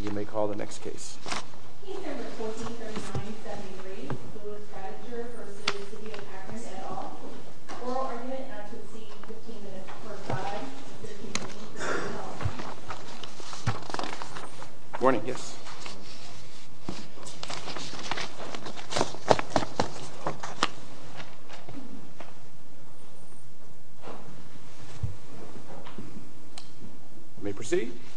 You may call the next case. Morning, yes.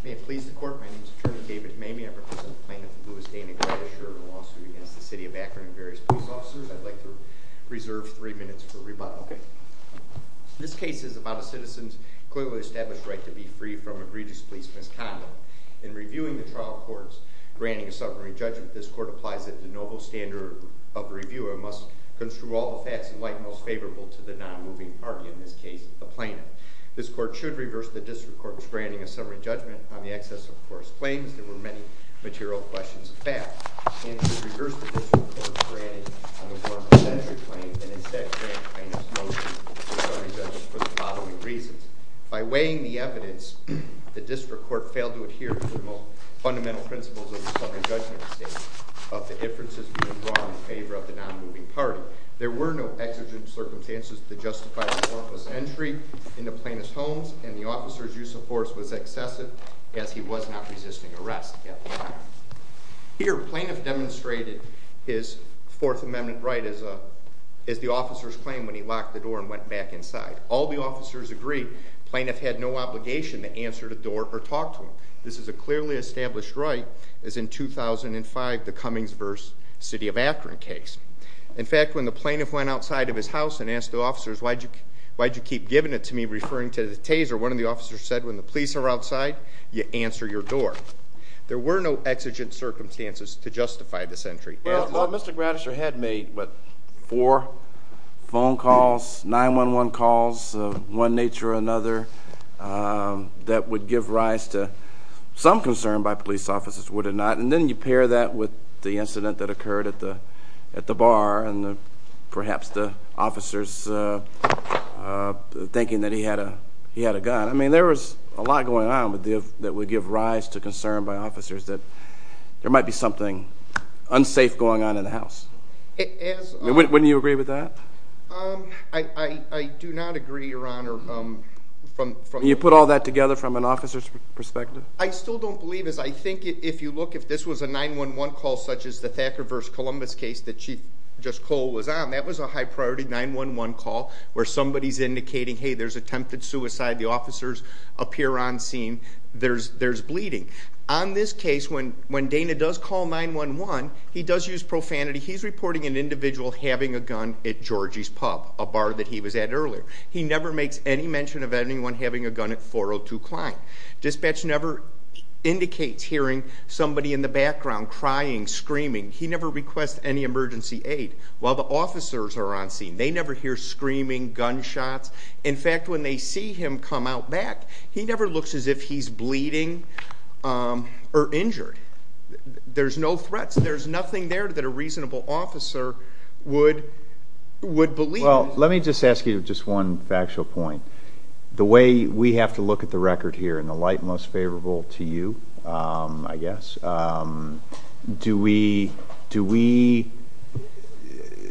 May it please the court, my name is David Mamie, I represent the plaintiff, Louis Danig Gradisher, in a lawsuit against the City of Akron and various police officers. I'd like to reserve three minutes for rebuttal. This case is about a citizen's clearly established right to be free from egregious police misconduct. In reviewing the trial court's granting a summary judgment, this court applies that the noble standard of reviewer must construe all the facts in light most favorable to the non-moving party, in this case, the plaintiff. This court should reverse the district court's granting a summary judgment on the excess of coarse claims, there were many material questions of fact, and should reverse the district court's granting on the form of a statutory claim, and instead grant plaintiff's motion for a summary judgment for the following reasons. By weighing the evidence, the district court failed to adhere to the most fundamental principles of the summary judgment of the differences being drawn in favor of the non-moving party. There were no exigent circumstances to justify the courtless entry into plaintiff's homes, and the officer's use of force was excessive, as he was not resisting arrest at the time. Here, plaintiff demonstrated his Fourth Amendment right as the officer's claim when he locked the door and went back inside. All the officers agreed, plaintiff had no obligation to answer the door or talk to him. This is a clearly established right, as in 2005, the Cummings v. City of Akron case. In fact, when the plaintiff went outside of his house and asked the officers, why'd you keep giving it to me, referring to the taser, one of the officers said, when the police are outside, you answer your door. There were no exigent circumstances to justify this entry. Well, Mr. Gratister had made, what, four phone calls, 911 calls of one nature or another, that would give rise to some concern by police officers, would it not? And then you pair that with the incident that occurred at the bar, and perhaps the officers thinking that he had a gun. I mean, there was a lot going on that would give rise to concern by officers that there might be something unsafe going on in the house. Wouldn't you agree with that? I do not agree, Your Honor. You put all that together from an officer's perspective? I still don't believe it. I think if you look, if this was a 911 call such as the Thacker v. Columbus case that Chief Cole was on, that was a high-priority 911 call, where somebody's indicating, hey, there's attempted suicide, the officers appear on scene, there's bleeding. On this case, when Dana does call 911, he does use profanity. He's reporting an individual having a gun at Georgie's Pub, a bar that he was at earlier. He never makes any mention of anyone having a gun at 402 Klein. Dispatch never indicates hearing somebody in the background crying, screaming. He never requests any emergency aid while the officers are on scene. They never hear screaming, gunshots. In fact, when they see him come out back, he never looks as if he's bleeding or injured. There's no threats. There's nothing there that a reasonable officer would believe. Well, let me just ask you just one factual point. The way we have to look at the record here in the light most favorable to you, I guess, do we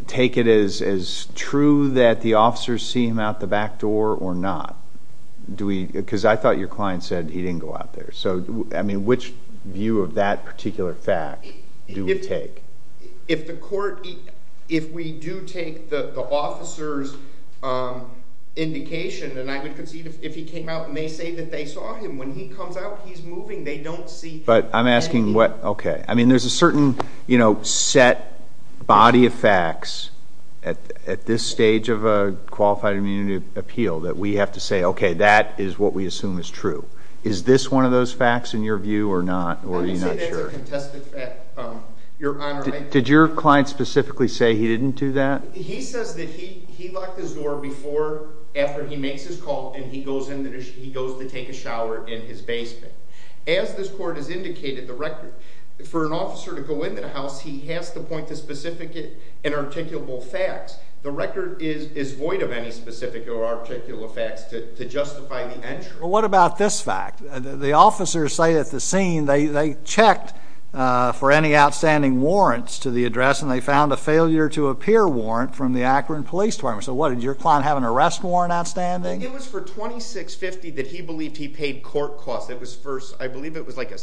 take it as true that the officers see him out the back door or not? Because I thought your client said he didn't go out there. So, I mean, which view of that particular fact do we take? If the court, if we do take the officer's indication, and I would concede if he came out and they say that they saw him, when he comes out, he's moving, they don't see anything. But I'm asking what, okay. I mean, there's a certain, you know, set body of facts at this stage of a qualified immunity appeal that we have to say, okay, that is what we assume is true. Is this one of those facts in your view or not? I would say that's a contested fact, Your Honor. Did your client specifically say he didn't do that? He says that he locked his door before, after he makes his call, and he goes to take a shower in his basement. As this court has indicated, the record, for an officer to go into the house, he has to point to specific and articulable facts. The record is void of any specific or articulable facts to justify the entry. Well, what about this fact? The officers say at the scene they checked for any outstanding warrants to the address and they found a failure to appear warrant from the Akron Police Department. So what, did your client have an arrest warrant outstanding? It was for $26.50 that he believed he paid court costs. I believe it was like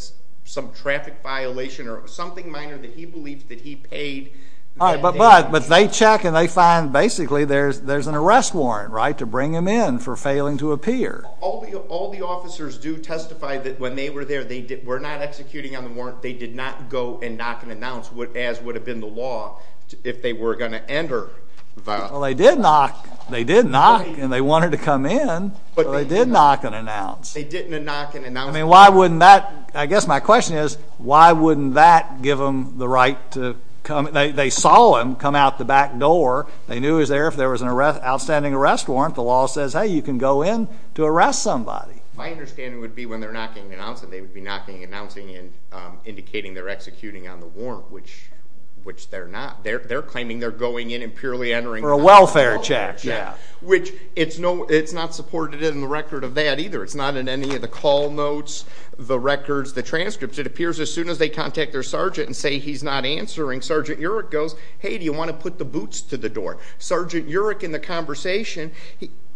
some traffic violation or something minor that he believed that he paid. But they check and they find basically there's an arrest warrant, right, to bring him in for failing to appear. All the officers do testify that when they were there, they were not executing on the warrant. They did not go and knock and announce, as would have been the law, if they were going to enter. Well, they did knock, they did knock, and they wanted to come in, but they did knock and announce. They didn't knock and announce. I mean, why wouldn't that, I guess my question is, why wouldn't that give them the right to come, they saw him come out the back door, they knew he was there, if there was an outstanding arrest warrant, the law says, hey, you can go in to arrest somebody. My understanding would be when they're knocking and announcing, they would be knocking and announcing and indicating they're executing on the warrant, which they're not. They're claiming they're going in and purely entering for a welfare check, which it's not supported in the record of that either. It's not in any of the call notes, the records, the transcripts. It appears as soon as they contact their sergeant and say he's not answering, Sergeant Yerrick goes, hey, do you want to put the boots to the door? Sergeant Yerrick, in the conversation,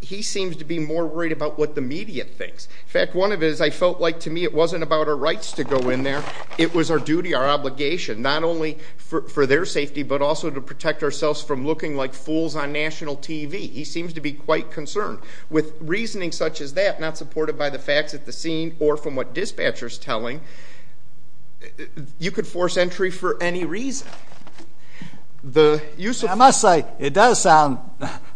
he seems to be more worried about what the media thinks. In fact, one of it is I felt like to me it wasn't about our rights to go in there, it was our duty, our obligation, not only for their safety, but also to protect ourselves from looking like fools on national TV. He seems to be quite concerned. With reasoning such as that, not supported by the facts at the scene or from what dispatcher's telling, you could force entry for any reason. I must say it does sound,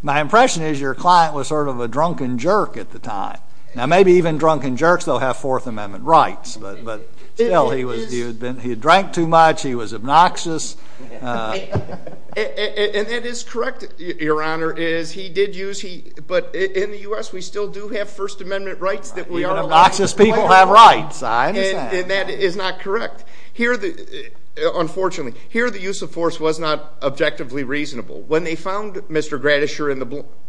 my impression is your client was sort of a drunken jerk at the time. Now maybe even drunken jerks don't have Fourth Amendment rights, but still he had drank too much, he was obnoxious. And that is correct, Your Honor, is he did use, but in the U.S. we still do have First Amendment rights that we are allowed. Obnoxious people have rights, I understand. And that is not correct. Unfortunately, here the use of force was not objectively reasonable. When they found Mr. Gratischer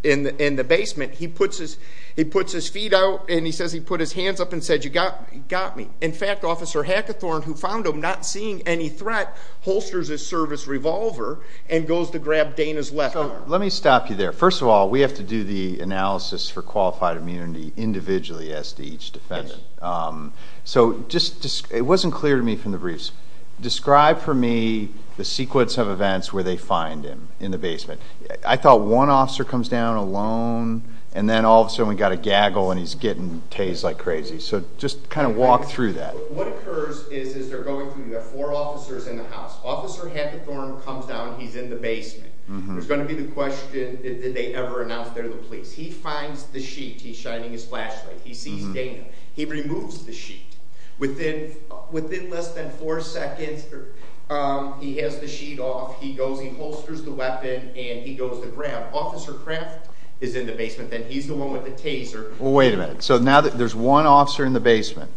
in the basement, he puts his feet out and he says he put his hands up and said, you got me. In fact, Officer Hackathorn, who found him not seeing any threat, holsters his service revolver and goes to grab Dana's left arm. Let me stop you there. First of all, we have to do the analysis for qualified immunity individually as to each defendant. So it wasn't clear to me from the briefs. Describe for me the sequence of events where they find him in the basement. I thought one officer comes down alone, and then all of a sudden we got a gaggle and he's getting tased like crazy. So just kind of walk through that. What occurs is they're going through the four officers in the house. Officer Hackathorn comes down, he's in the basement. There's going to be the question, did they ever announce they're the police? He finds the sheet, he's shining his flashlight, he sees Dana. He removes the sheet. Within less than four seconds, he has the sheet off. He holsters the weapon and he goes to grab. Officer Kraft is in the basement. Then he's the one with the taser. Wait a minute. So now there's one officer in the basement.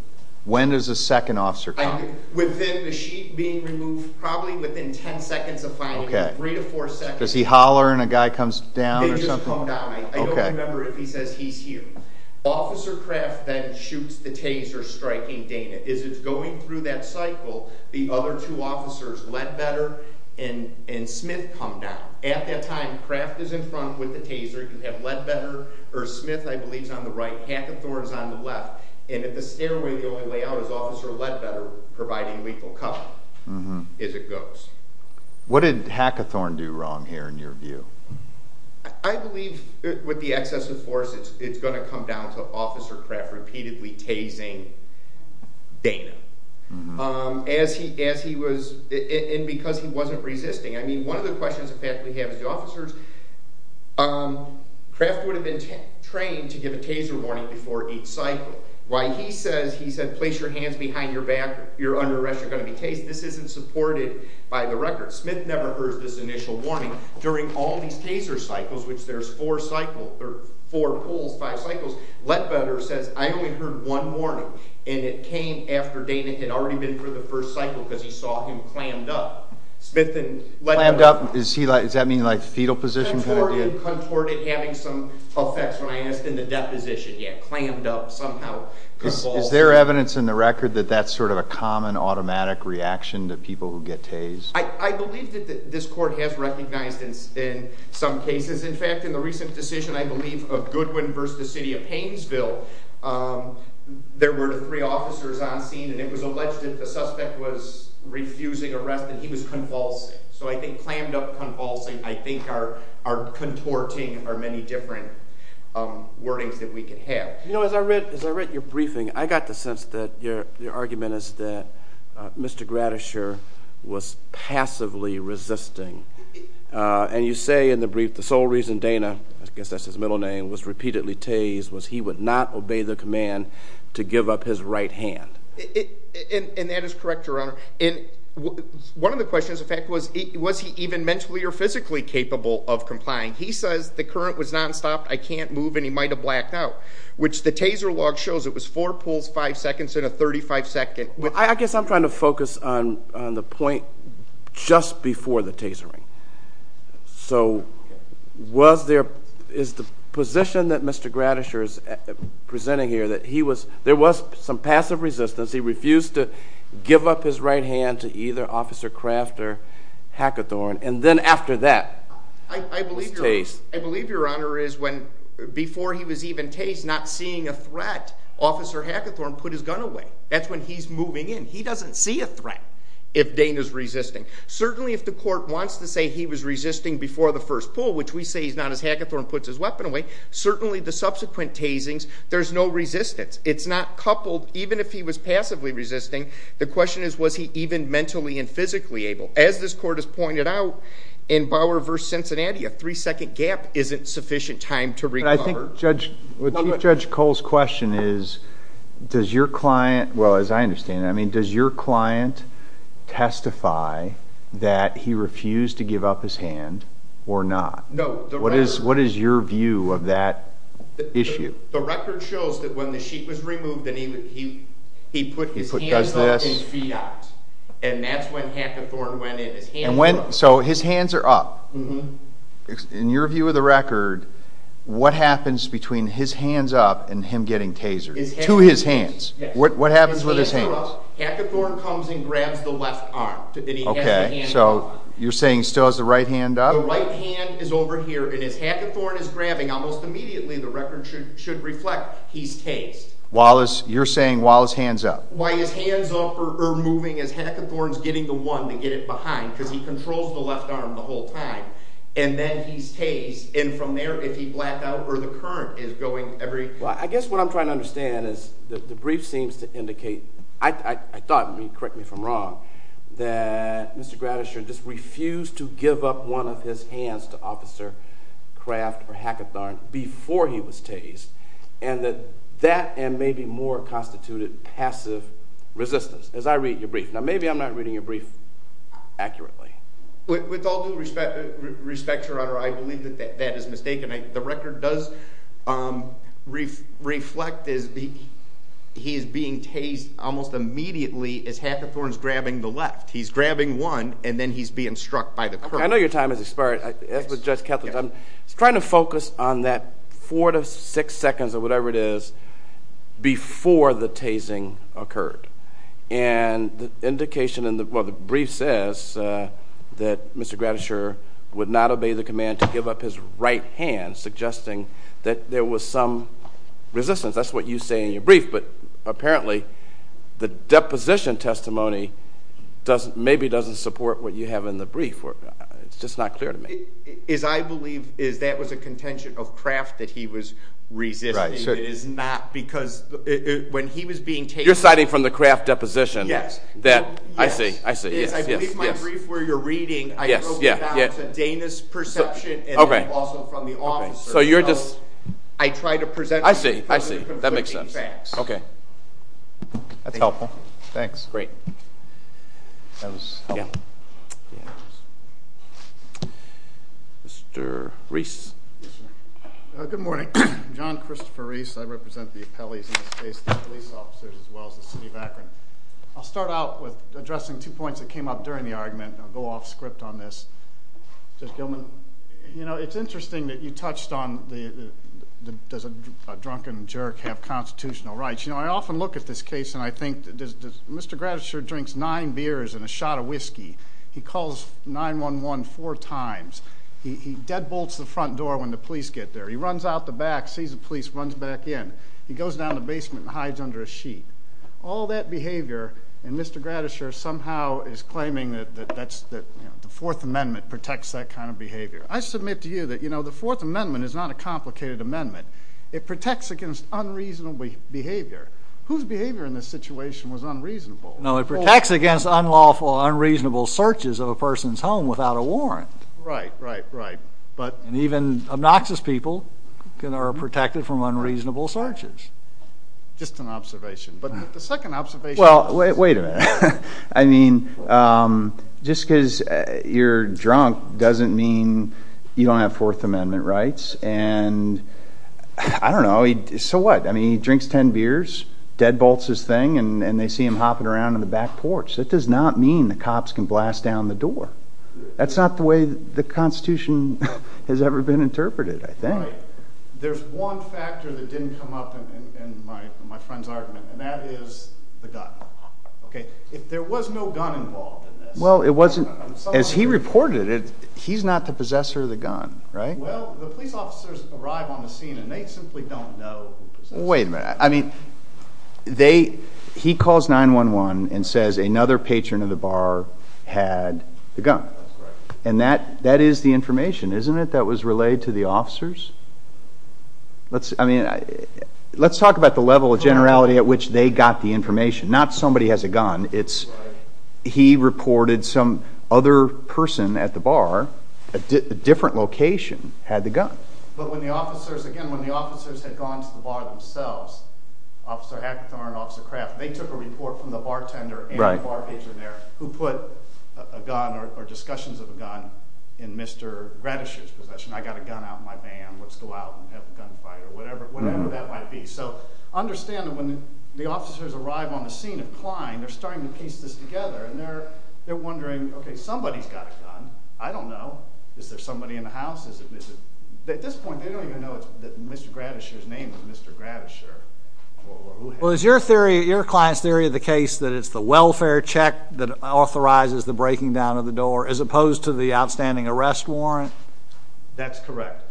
When does the second officer come? Within the sheet being removed, probably within ten seconds of finding him. Three to four seconds. Does he holler and a guy comes down or something? They just come down. I don't remember if he says he's here. Officer Kraft then shoots the taser, striking Dana. As it's going through that cycle, the other two officers, Ledbetter and Smith, come down. At that time, Kraft is in front with the taser. You have Ledbetter or Smith, I believe, is on the right. Hackathorn is on the left. And at the stairway, the only way out is Officer Ledbetter providing lethal cover as it goes. What did Hackathorn do wrong here in your view? I believe with the excessive force, it's going to come down to Officer Kraft repeatedly tasing Dana. And because he wasn't resisting. I mean, one of the questions that we have is the officers, Kraft would have been trained to give a taser warning before each cycle. Why he says, he said, place your hands behind your back, you're under arrest, you're going to be tased. This isn't supported by the record. Smith never heard this initial warning. During all these taser cycles, which there's four cycles, or four pulls, five cycles, Ledbetter says, I only heard one warning. And it came after Dana had already been through the first cycle because he saw him clammed up. Clammed up, does that mean like fetal position? Contorted, having some effects when I asked in the deposition. Yeah, clammed up somehow. Is there evidence in the record that that's sort of a common automatic reaction to people who get tased? I believe that this court has recognized in some cases. In fact, in the recent decision, I believe, of Goodwin versus the city of Painesville, there were three officers on scene and it was alleged that the suspect was refusing arrest and he was convulsing. So I think clammed up, convulsing, I think are contorting are many different wordings that we could have. You know, as I read your briefing, I got the sense that your argument is that Mr. Gratisher was passively resisting. And you say in the brief, the sole reason Dana, I guess that's his middle name, was repeatedly tased was he would not obey the command to give up his right hand. And that is correct, Your Honor. And one of the questions, in fact, was, was he even mentally or physically capable of complying? He says the current was nonstop, I can't move, and he might have blacked out, which the taser log shows it was four pulls, five seconds in a 35-second. I guess I'm trying to focus on the point just before the tasering. So was there, is the position that Mr. Gratisher is presenting here that he was, there was some passive resistance. He refused to give up his right hand to either Officer Kraft or Hackathorn. And then after that, was tased. I believe, Your Honor, is when before he was even tased, not seeing a threat, Officer Hackathorn put his gun away. That's when he's moving in. He doesn't see a threat if Dana's resisting. Certainly if the court wants to say he was resisting before the first pull, which we say he's not as Hackathorn puts his weapon away, certainly the subsequent tasings, there's no resistance. It's not coupled, even if he was passively resisting, the question is was he even mentally and physically able. As this court has pointed out, in Bauer v. Cincinnati, a three-second gap isn't sufficient time to recover. I think Judge, Chief Judge Cole's question is, does your client, well, as I understand it, I mean, does your client testify that he refused to give up his hand or not? No. What is your view of that issue? The record shows that when the sheet was removed, he put his hands up and his feet out. And that's when Hackathorn went in. So his hands are up. Mm-hmm. In your view of the record, what happens between his hands up and him getting tasered? To his hands. What happens with his hands? Hackathorn comes and grabs the left arm. Okay, so you're saying he still has the right hand up? The right hand is over here, and as Hackathorn is grabbing, almost immediately the record should reflect he's tased. You're saying while his hands up? While his hands up or moving, is Hackathorn getting the one to get it behind? Because he controls the left arm the whole time, and then he's tased. And from there, if he blacked out or the current is going every? Well, I guess what I'm trying to understand is the brief seems to indicate, I thought, correct me if I'm wrong, that Mr. Gratisher just refused to give up one of his hands to Officer Kraft or Hackathorn before he was tased, and that that and maybe more constituted passive resistance, as I read your brief. Now, maybe I'm not reading your brief accurately. With all due respect, Your Honor, I believe that that is mistaken. The record does reflect he is being tased almost immediately as Hackathorn is grabbing the left. He's grabbing one, and then he's being struck by the current. I know your time has expired. I was trying to focus on that four to six seconds or whatever it is before the tasing occurred. And the brief says that Mr. Gratisher would not obey the command to give up his right hand, suggesting that there was some resistance. That's what you say in your brief, but apparently the deposition testimony maybe doesn't support what you have in the brief. It's just not clear to me. I believe that was a contention of Kraft that he was resisting. It is not because when he was being tased— You're citing from the Kraft deposition that—I see, I see. I believe my brief where you're reading, I broke it down to Dana's perception and then also from the officer's. So you're just— I try to present— I see, I see. That makes sense. That's helpful. Thanks. Great. That was helpful. Mr. Reese. Good morning. I'm John Christopher Reese. I represent the appellees in this case, the police officers as well as the city of Akron. I'll start out with addressing two points that came up during the argument. I'll go off script on this. Judge Gilman, you know, it's interesting that you touched on does a drunken jerk have constitutional rights. You know, I often look at this case and I think, Mr. Gratischer drinks nine beers and a shot of whiskey. He calls 911 four times. He deadbolts the front door when the police get there. He runs out the back, sees the police, runs back in. He goes down the basement and hides under a sheet. All that behavior, and Mr. Gratischer somehow is claiming that the Fourth Amendment protects that kind of behavior. I submit to you that, you know, the Fourth Amendment is not a complicated amendment. It protects against unreasonable behavior. Whose behavior in this situation was unreasonable? No, it protects against unlawful, unreasonable searches of a person's home without a warrant. Right, right, right. And even obnoxious people are protected from unreasonable searches. Just an observation. But the second observation is... Well, wait a minute. I mean, just because you're drunk doesn't mean you don't have Fourth Amendment rights. And, I don't know, so what? I mean, he drinks ten beers, deadbolts his thing, and they see him hopping around on the back porch. That does not mean the cops can blast down the door. That's not the way the Constitution has ever been interpreted, I think. Right. There's one factor that didn't come up in my friend's argument, and that is the gun. Okay, if there was no gun involved in this... Well, it wasn't... As he reported it, he's not the possessor of the gun, right? Well, the police officers arrive on the scene, and they simply don't know who possessed it. Wait a minute. I mean, he calls 911 and says another patron of the bar had the gun. And that is the information, isn't it, that was relayed to the officers? I mean, let's talk about the level of generality at which they got the information. Not somebody has a gun. He reported some other person at the bar, a different location, had the gun. But when the officers, again, when the officers had gone to the bar themselves, Officer Hackithorn and Officer Kraft, they took a report from the bartender and the bar patron there who put a gun or discussions of a gun in Mr. Gratish's possession. I got a gun out in my van. Let's go out and have a gunfight or whatever that might be. So understand that when the officers arrive on the scene of Klein, they're starting to piece this together, and they're wondering, okay, somebody's got a gun. I don't know. Is there somebody in the house? At this point, they don't even know that Mr. Gratish's name is Mr. Gratish. Well, is your client's theory of the case that it's the welfare check that authorizes the breaking down of the door as opposed to the outstanding arrest warrant? That's correct.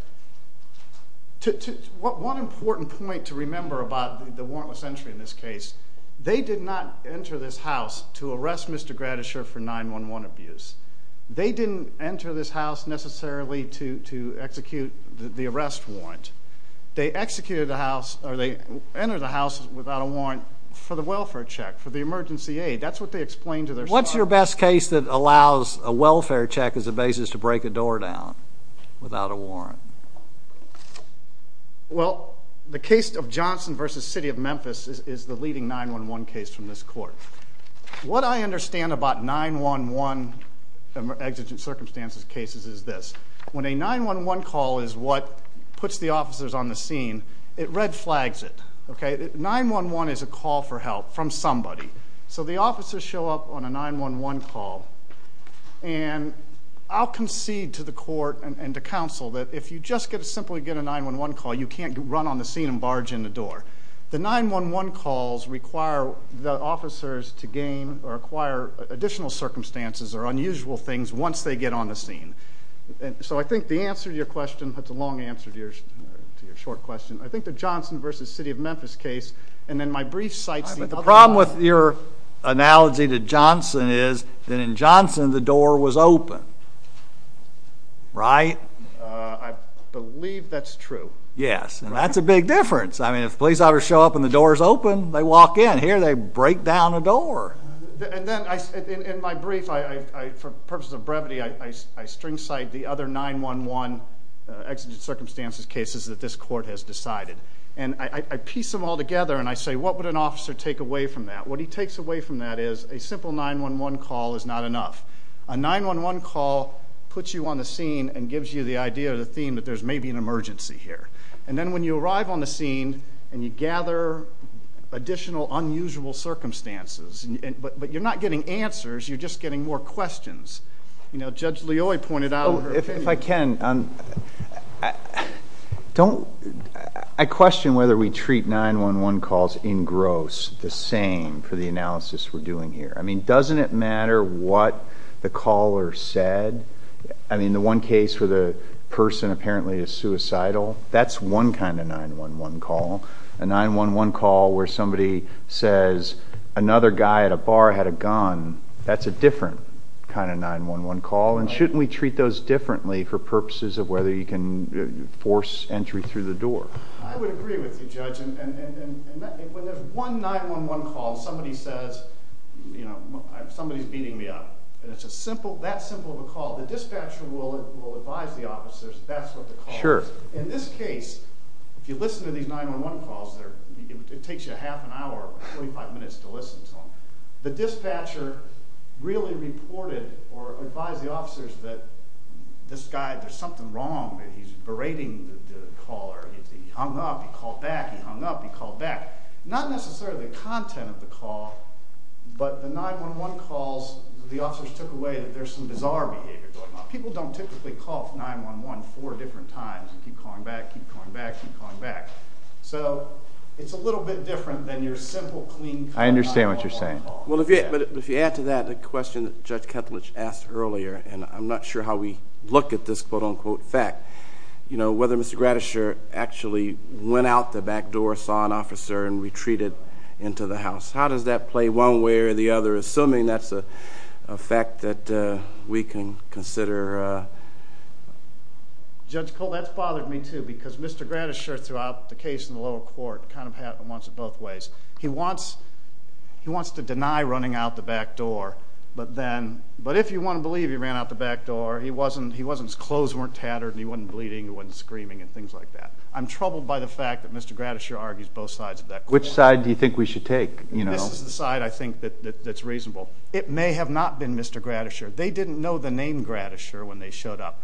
One important point to remember about the warrantless entry in this case, they did not enter this house to arrest Mr. Gratish for 9-1-1 abuse. They didn't enter this house necessarily to execute the arrest warrant. They entered the house without a warrant for the welfare check, for the emergency aid. That's what they explained to their spouse. What's your best case that allows a welfare check as a basis to break a door down without a warrant? Well, the case of Johnson v. City of Memphis is the leading 9-1-1 case from this court. What I understand about 9-1-1 exigent circumstances cases is this. When a 9-1-1 call is what puts the officers on the scene, it red flags it. 9-1-1 is a call for help from somebody. So the officers show up on a 9-1-1 call, and I'll concede to the court and to counsel that if you just simply get a 9-1-1 call, you can't run on the scene and barge in the door. The 9-1-1 calls require the officers to gain or acquire additional circumstances or unusual things once they get on the scene. So I think the answer to your question, that's a long answer to your short question, I think the Johnson v. City of Memphis case and then my brief sightseeing. The problem with your analogy to Johnson is that in Johnson the door was open, right? I believe that's true. Yes, and that's a big difference. I mean, if the police officers show up and the door is open, they walk in. Here they break down a door. And then in my brief, for purposes of brevity, I string sight the other 9-1-1 exigent circumstances cases that this court has decided. And I piece them all together and I say, what would an officer take away from that? What he takes away from that is a simple 9-1-1 call is not enough. A 9-1-1 call puts you on the scene and gives you the idea or the theme that there's maybe an emergency here. And then when you arrive on the scene and you gather additional unusual circumstances, but you're not getting answers, you're just getting more questions. You know, Judge Leoy pointed out her opinion. If I can, I question whether we treat 9-1-1 calls in gross the same for the analysis we're doing here. I mean, doesn't it matter what the caller said? I mean, the one case where the person apparently is suicidal, that's one kind of 9-1-1 call. A 9-1-1 call where somebody says another guy at a bar had a gun, that's a different kind of 9-1-1 call. And shouldn't we treat those differently for purposes of whether you can force entry through the door? I would agree with you, Judge. And when there's one 9-1-1 call and somebody says, you know, somebody's beating me up, and it's that simple of a call, the dispatcher will advise the officers that that's what the call is. In this case, if you listen to these 9-1-1 calls, it takes you a half an hour or 45 minutes to listen to them. The dispatcher really reported or advised the officers that this guy, there's something wrong, that he's berating the caller. He hung up, he called back, he hung up, he called back. Not necessarily the content of the call, but the 9-1-1 calls, the officers took away that there's some bizarre behavior going on. People don't typically call 9-1-1 four different times and keep calling back, keep calling back, keep calling back. So it's a little bit different than your simple, clean call. I understand what you're saying. Well, if you add to that the question that Judge Ketelich asked earlier, and I'm not sure how we look at this quote-unquote fact, you know, whether Mr. Gratisher actually went out the back door, saw an officer, and retreated into the house. How does that play one way or the other, assuming that's a fact that we can consider? Judge, that's bothered me, too, because Mr. Gratisher throughout the case in the lower court kind of wants it both ways. He wants to deny running out the back door, but if you want to believe he ran out the back door, his clothes weren't tattered and he wasn't bleeding, he wasn't screaming and things like that. I'm troubled by the fact that Mr. Gratisher argues both sides of that question. Which side do you think we should take? This is the side I think that's reasonable. It may have not been Mr. Gratisher. They didn't know the name Gratisher when they showed up.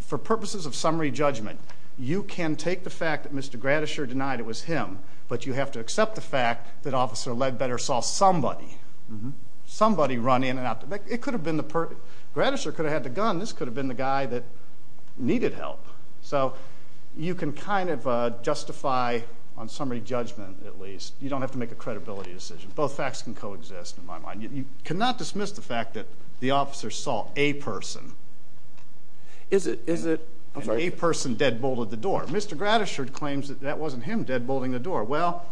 For purposes of summary judgment, you can take the fact that Mr. Gratisher denied it was him, but you have to accept the fact that Officer Ledbetter saw somebody, somebody run in and out the back. It could have been the person. Gratisher could have had the gun. This could have been the guy that needed help. So you can kind of justify on summary judgment at least. You don't have to make a credibility decision. Both facts can coexist in my mind. You cannot dismiss the fact that the officer saw a person. Is it? A person deadbolted the door. Mr. Gratisher claims that that wasn't him deadbolting the door. Well,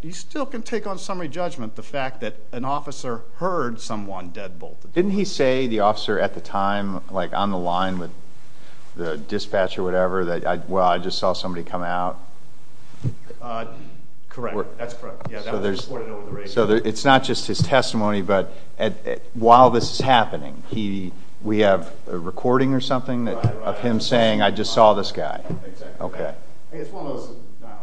you still can take on summary judgment the fact that an officer heard someone deadbolted. Didn't he say the officer at the time, like on the line with the dispatcher or whatever, that, well, I just saw somebody come out? Correct. That's correct. Yeah, that was reported over the radio. So it's not just his testimony, but while this is happening, we have a recording or something of him saying, I just saw this guy. Okay. It's one of those, I don't know,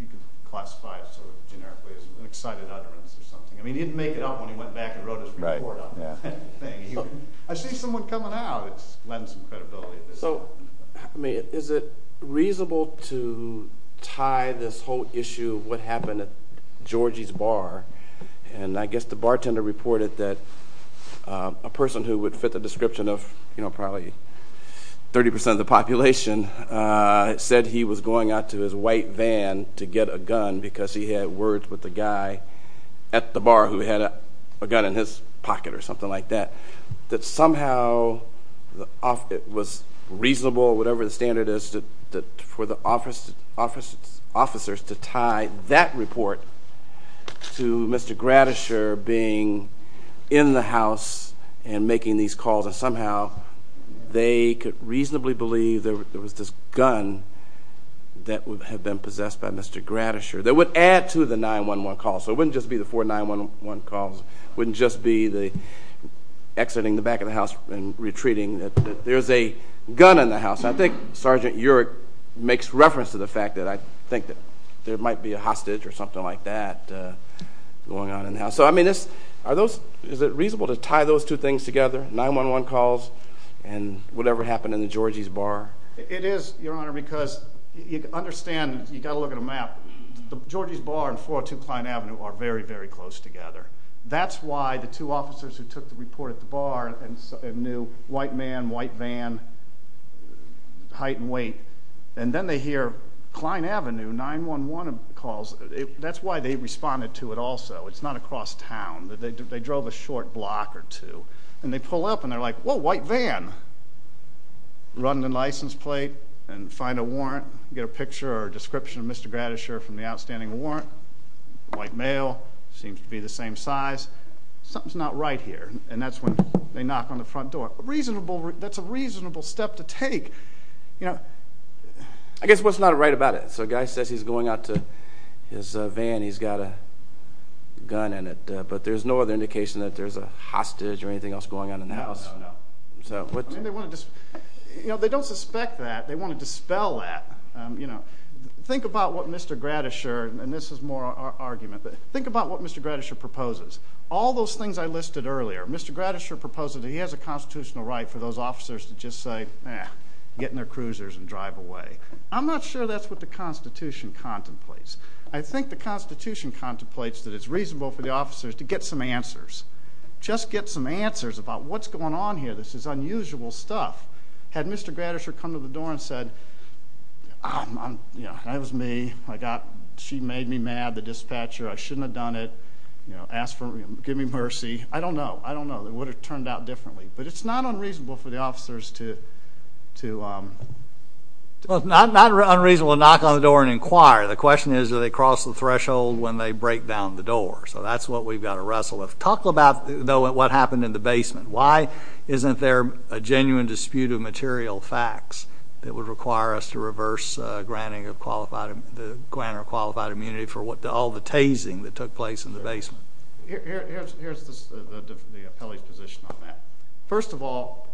you could classify it sort of generically as an excited utterance or something. I mean, he didn't make it up when he went back and wrote his report on that thing. I see someone coming out, it lends some credibility. So, I mean, is it reasonable to tie this whole issue of what happened at Georgie's Bar, and I guess the bartender reported that a person who would fit the description of probably 30% of the population said he was going out to his white van to get a gun because he had words with the guy at the bar who had a gun in his pocket or something like that, that somehow it was reasonable, whatever the standard is, for the officers to tie that report to Mr. Gratisher being in the house and making these calls, and somehow they could reasonably believe there was this gun that had been possessed by Mr. Gratisher. That would add to the 9-1-1 calls, so it wouldn't just be the four 9-1-1 calls. It wouldn't just be the exiting the back of the house and retreating. There's a gun in the house. I think Sergeant Urich makes reference to the fact that I think there might be a hostage or something like that going on in the house. So, I mean, is it reasonable to tie those two things together, 9-1-1 calls and whatever happened in the Georgie's Bar? It is, Your Honor, because you understand you've got to look at a map. The Georgie's Bar and 402 Klein Avenue are very, very close together. That's why the two officers who took the report at the bar knew white man, white van, height and weight, and then they hear Klein Avenue, 9-1-1 calls. That's why they responded to it also. It's not across town. They drove a short block or two, and they pull up, and they're like, Whoa, white van. Run the license plate and find a warrant. Get a picture or a description of Mr. Gratisher from the outstanding warrant. White male. Seems to be the same size. Something's not right here, and that's when they knock on the front door. That's a reasonable step to take. I guess what's not right about it? So a guy says he's going out to his van. He's got a gun in it, but there's no other indication that there's a hostage or anything else going on in the house. They don't suspect that. They want to dispel that. Think about what Mr. Gratisher, and this is more our argument, but think about what Mr. Gratisher proposes. All those things I listed earlier, Mr. Gratisher proposes that he has a constitutional right for those officers to just say, Eh, get in their cruisers and drive away. I'm not sure that's what the Constitution contemplates. I think the Constitution contemplates that it's reasonable for the officers to get some answers. Just get some answers about what's going on here. This is unusual stuff. Had Mr. Gratisher come to the door and said, That was me. She made me mad, the dispatcher. I shouldn't have done it. Give me mercy. I don't know. I don't know. It would have turned out differently. But it's not unreasonable for the officers to... It's not unreasonable to knock on the door and inquire. The question is do they cross the threshold when they break down the door? So that's what we've got to wrestle with. Talk about, though, what happened in the basement. Why isn't there a genuine dispute of material facts that would require us to reverse the granting of qualified immunity for all the tasing that took place in the basement? Here's the appellee's position on that. First of all,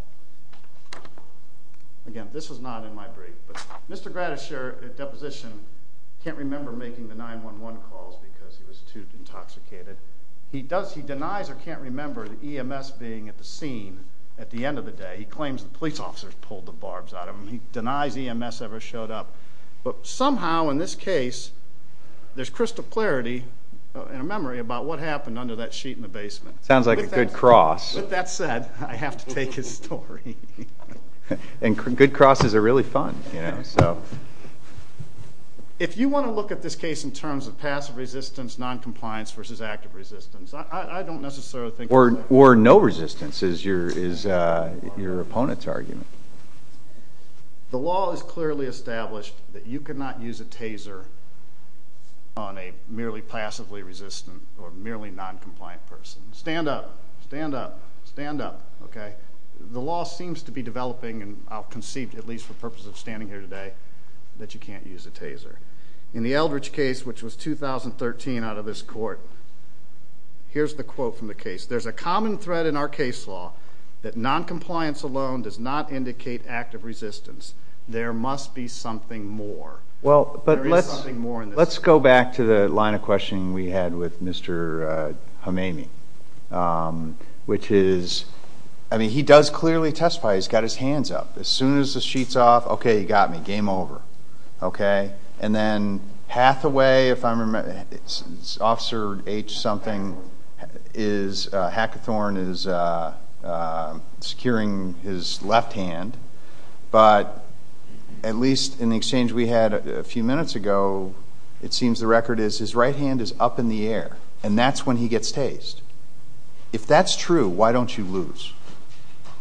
again, this was not in my brief, but Mr. Gratisher, at deposition, can't remember making the 911 calls because he was too intoxicated. He denies or can't remember the EMS being at the scene at the end of the day. He claims the police officers pulled the barbs out of him. He denies EMS ever showed up. But somehow in this case there's crystal clarity and a memory about what happened under that sheet in the basement. Sounds like a good cross. With that said, I have to take his story. And good crosses are really fun. If you want to look at this case in terms of passive resistance, noncompliance versus active resistance, I don't necessarily think that's a good idea. Or no resistance is your opponent's argument. The law is clearly established that you cannot use a taser on a merely passively resistant or merely noncompliant person. Stand up. Stand up. Stand up. The law seems to be developing, and I'll concede, at least for the purpose of standing here today, that you can't use a taser. In the Eldridge case, which was 2013 out of this court, here's the quote from the case. There's a common thread in our case law that noncompliance alone does not indicate active resistance. There must be something more. There is something more in this case. Let's go back to the line of questioning we had with Mr. Hameimi, which is, I mean, he does clearly testify. He's got his hands up. As soon as the sheet's off, okay, you got me. Game over. Okay? And then Hathaway, if I remember, Officer H-something, Hackathorn, is securing his left hand. But at least in the exchange we had a few minutes ago, it seems the record is his right hand is up in the air, and that's when he gets tased. If that's true, why don't you lose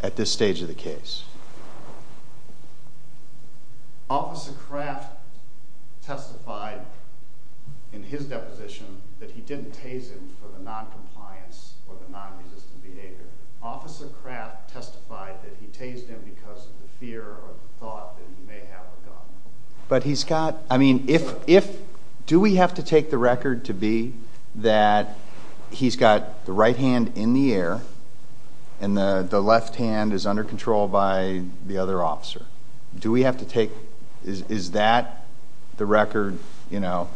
at this stage of the case? Officer Kraft testified in his deposition that he didn't tase him for the noncompliance or the nonresistant behavior. Officer Kraft testified that he tased him because of the fear or the thought that he may have of God. But he's got, I mean, if, do we have to take the record to be that he's got the right hand in the air and the left hand is under control by the other officer? Do we have to take, is that the record, you know,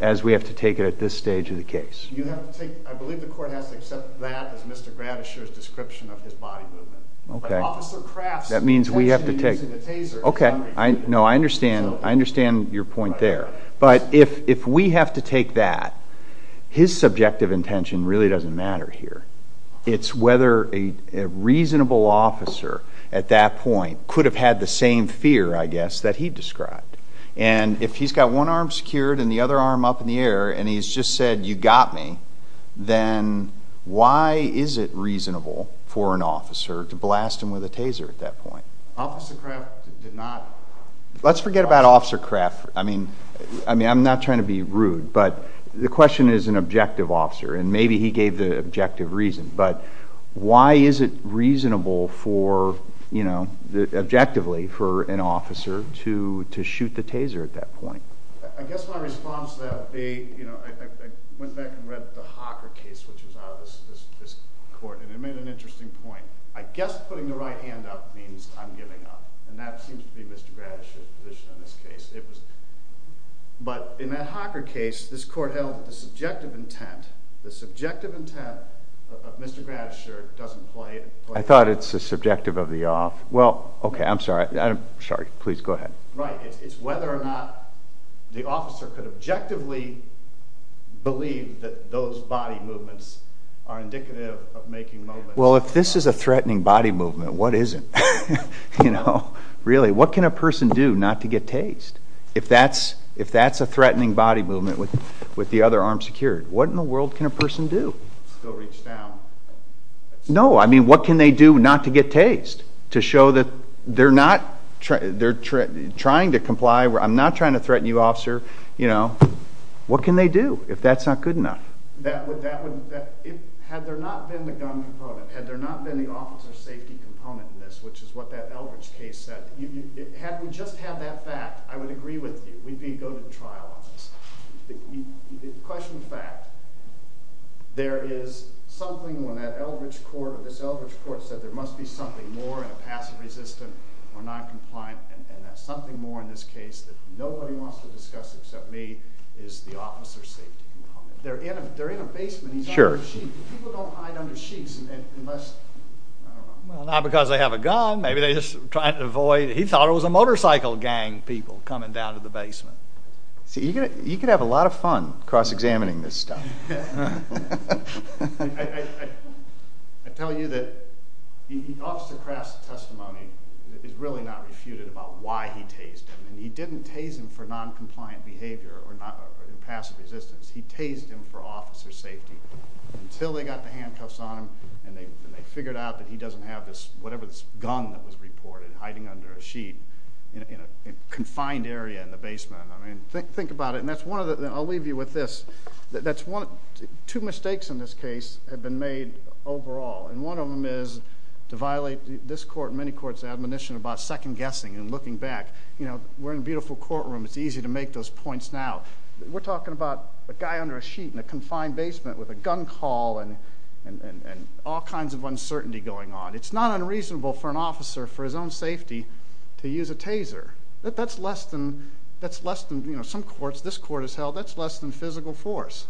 as we have to take it at this stage of the case? You have to take, I believe the court has to accept that as Mr. Gratish's description of his body movement. Okay. But Officer Kraft's intention in using the taser is nonresistant. No, I understand, I understand your point there. But if we have to take that, his subjective intention really doesn't matter here. It's whether a reasonable officer at that point could have had the same fear, I guess, that he described. And if he's got one arm secured and the other arm up in the air and he's just said, you got me, then why is it reasonable for an officer to blast him with a taser at that point? Officer Kraft did not. Let's forget about Officer Kraft. I mean, I'm not trying to be rude, but the question is an objective officer, and maybe he gave the objective reason. But why is it reasonable for, you know, objectively for an officer to shoot the taser at that point? I guess my response to that would be, you know, I went back and read the Hocker case, which was out of this court, and it made an interesting point. I guess putting the right hand up means I'm giving up, and that seems to be Mr. Gratish's position in this case. But in that Hocker case, this court held the subjective intent. The subjective intent of Mr. Gratisher doesn't play. I thought it's the subjective of the off. Well, okay, I'm sorry. Please go ahead. Right. It's whether or not the officer could objectively believe that those body movements are indicative of making movements. Well, if this is a threatening body movement, what isn't? You know, really, what can a person do not to get tased? If that's a threatening body movement with the other arm secured, what in the world can a person do? Still reach down. No, I mean, what can they do not to get tased? To show that they're not trying to comply, I'm not trying to threaten you, officer. You know, what can they do if that's not good enough? Had there not been the gun component, had there not been the officer safety component in this, which is what that Eldridge case said, had we just had that fact, I would agree with you. We'd be going to trial on this. Question of fact, there is something when that Eldridge court or this Eldridge court said there must be something more in a passive-resistant or noncompliant, and that something more in this case that nobody wants to discuss except me is the officer safety component. They're in a basement, he's under a sheet, but people don't hide under sheets unless, I don't know. Well, not because they have a gun, maybe they're just trying to avoid, he thought it was a motorcycle gang people coming down to the basement. See, you could have a lot of fun cross-examining this stuff. I tell you that the officer crafts a testimony that is really not refuted about why he tased him, and he didn't tase him for noncompliant behavior or passive resistance. He tased him for officer safety until they got the handcuffs on him, and they figured out that he doesn't have whatever this gun that was reported hiding under a sheet in a confined area in the basement. I mean, think about it, and I'll leave you with this. Two mistakes in this case have been made overall, and one of them is to violate this court and many courts' admonition about second-guessing and looking back. You know, we're in a beautiful courtroom. It's easy to make those points now. We're talking about a guy under a sheet in a confined basement with a gun call and all kinds of uncertainty going on. It's not unreasonable for an officer for his own safety to use a taser. That's less than some courts, this court has held, that's less than physical force.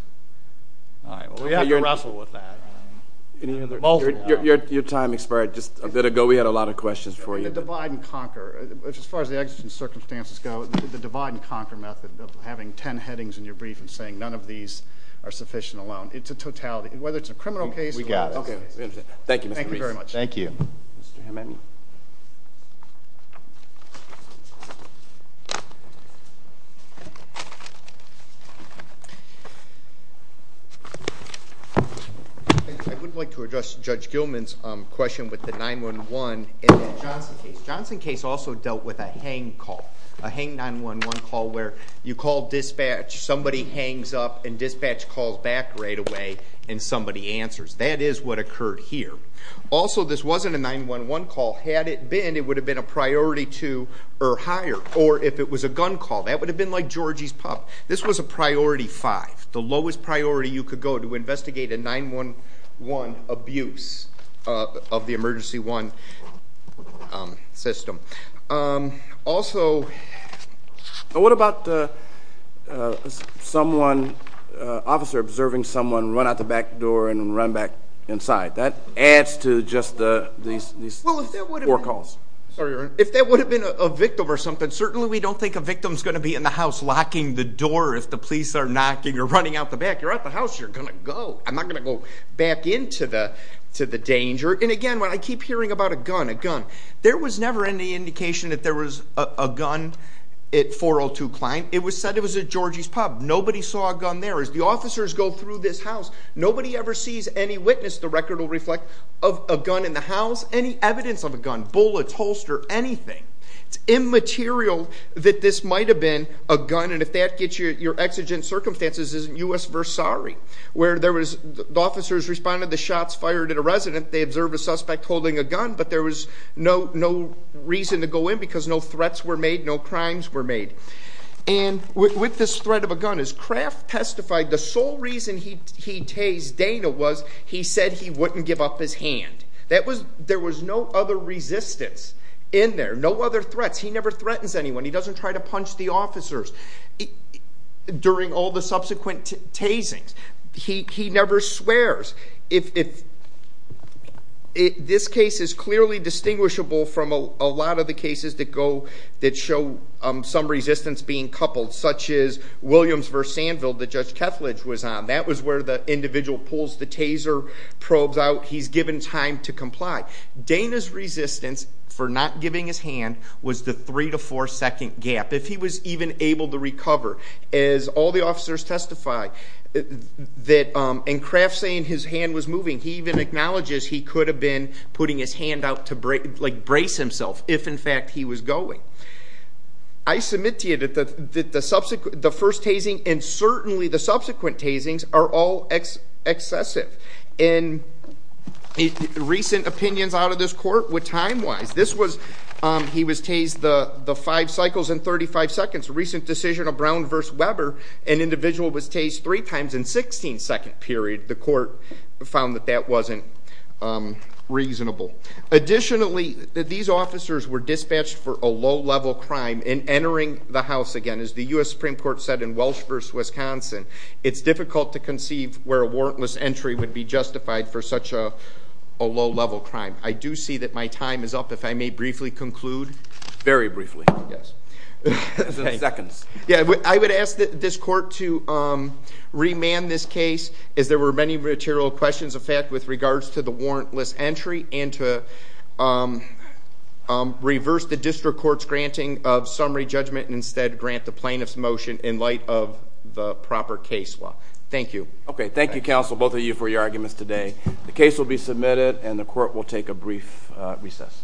All right, well, we have to wrestle with that. Your time expired just a bit ago. We had a lot of questions for you. The divide-and-conquer, as far as the exigent circumstances go, the divide-and-conquer method of having ten headings in your brief and saying none of these are sufficient alone, it's a totality, whether it's a criminal case. We got it. Okay. Thank you, Mr. Reese. Thank you very much. Thank you. Mr. Hememi. I would like to address Judge Gilman's question with the 911 and the Johnson case. The Johnson case also dealt with a hang call, a hang 911 call where you call dispatch, somebody hangs up and dispatch calls back right away and somebody answers. That is what occurred here. Also, this wasn't a 911 call. Had it been, it would have been a priority two or higher. Or if it was a gun call, that would have been like Georgie's pup. This was a priority five, the lowest priority you could go to investigate a 911 abuse of the emergency one system. Also, what about the officer observing someone run out the back door and run back inside? That adds to just these four calls. If that would have been a victim or something, certainly we don't think a victim is going to be in the house locking the door. If the police are knocking or running out the back, you're at the house, you're going to go. I'm not going to go back into the danger. And again, when I keep hearing about a gun, a gun, there was never any indication that there was a gun at 402 Cline. It was said it was at Georgie's pup. Nobody saw a gun there. As the officers go through this house, nobody ever sees any witness. The record will reflect a gun in the house, any evidence of a gun, bullets, holster, anything. It's immaterial that this might have been a gun. And if that gets you, your exigent circumstances is in U.S. Versailles, where there was officers responded to shots fired at a resident. They observed a suspect holding a gun, but there was no reason to go in because no threats were made, no crimes were made. And with this threat of a gun, as Kraft testified, the sole reason he tased Dana was he said he wouldn't give up his hand. There was no other resistance in there, no other threats. He never threatens anyone. He doesn't try to punch the officers during all the subsequent tasings. He never swears. This case is clearly distinguishable from a lot of the cases that show some resistance being coupled, such as Williams versus Sandville that Judge Kethledge was on. That was where the individual pulls the taser, probes out, he's given time to comply. Dana's resistance for not giving his hand was the three to four second gap. If he was even able to recover, as all the officers testify, and Kraft saying his hand was moving, he even acknowledges he could have been putting his hand out to brace himself if, in fact, he was going. I submit to you that the first tasing and certainly the subsequent tasings are all excessive. And recent opinions out of this court were time-wise. He was tased the five cycles and 35 seconds. A recent decision of Brown versus Weber, an individual was tased three times in a 16-second period. The court found that that wasn't reasonable. Additionally, these officers were dispatched for a low-level crime in entering the house again. As the U.S. Supreme Court said in Welsh versus Wisconsin, it's difficult to conceive where a warrantless entry would be justified for such a low-level crime. I do see that my time is up. If I may briefly conclude. Very briefly. Yes. In seconds. Yeah. I would ask this court to remand this case as there were many material questions, in fact, with regards to the warrantless entry and to reverse the district court's granting of summary judgment and instead grant the plaintiff's motion in light of the proper case law. Thank you. Okay. Thank you, counsel, both of you, for your arguments today. The case will be submitted and the court will take a brief recess.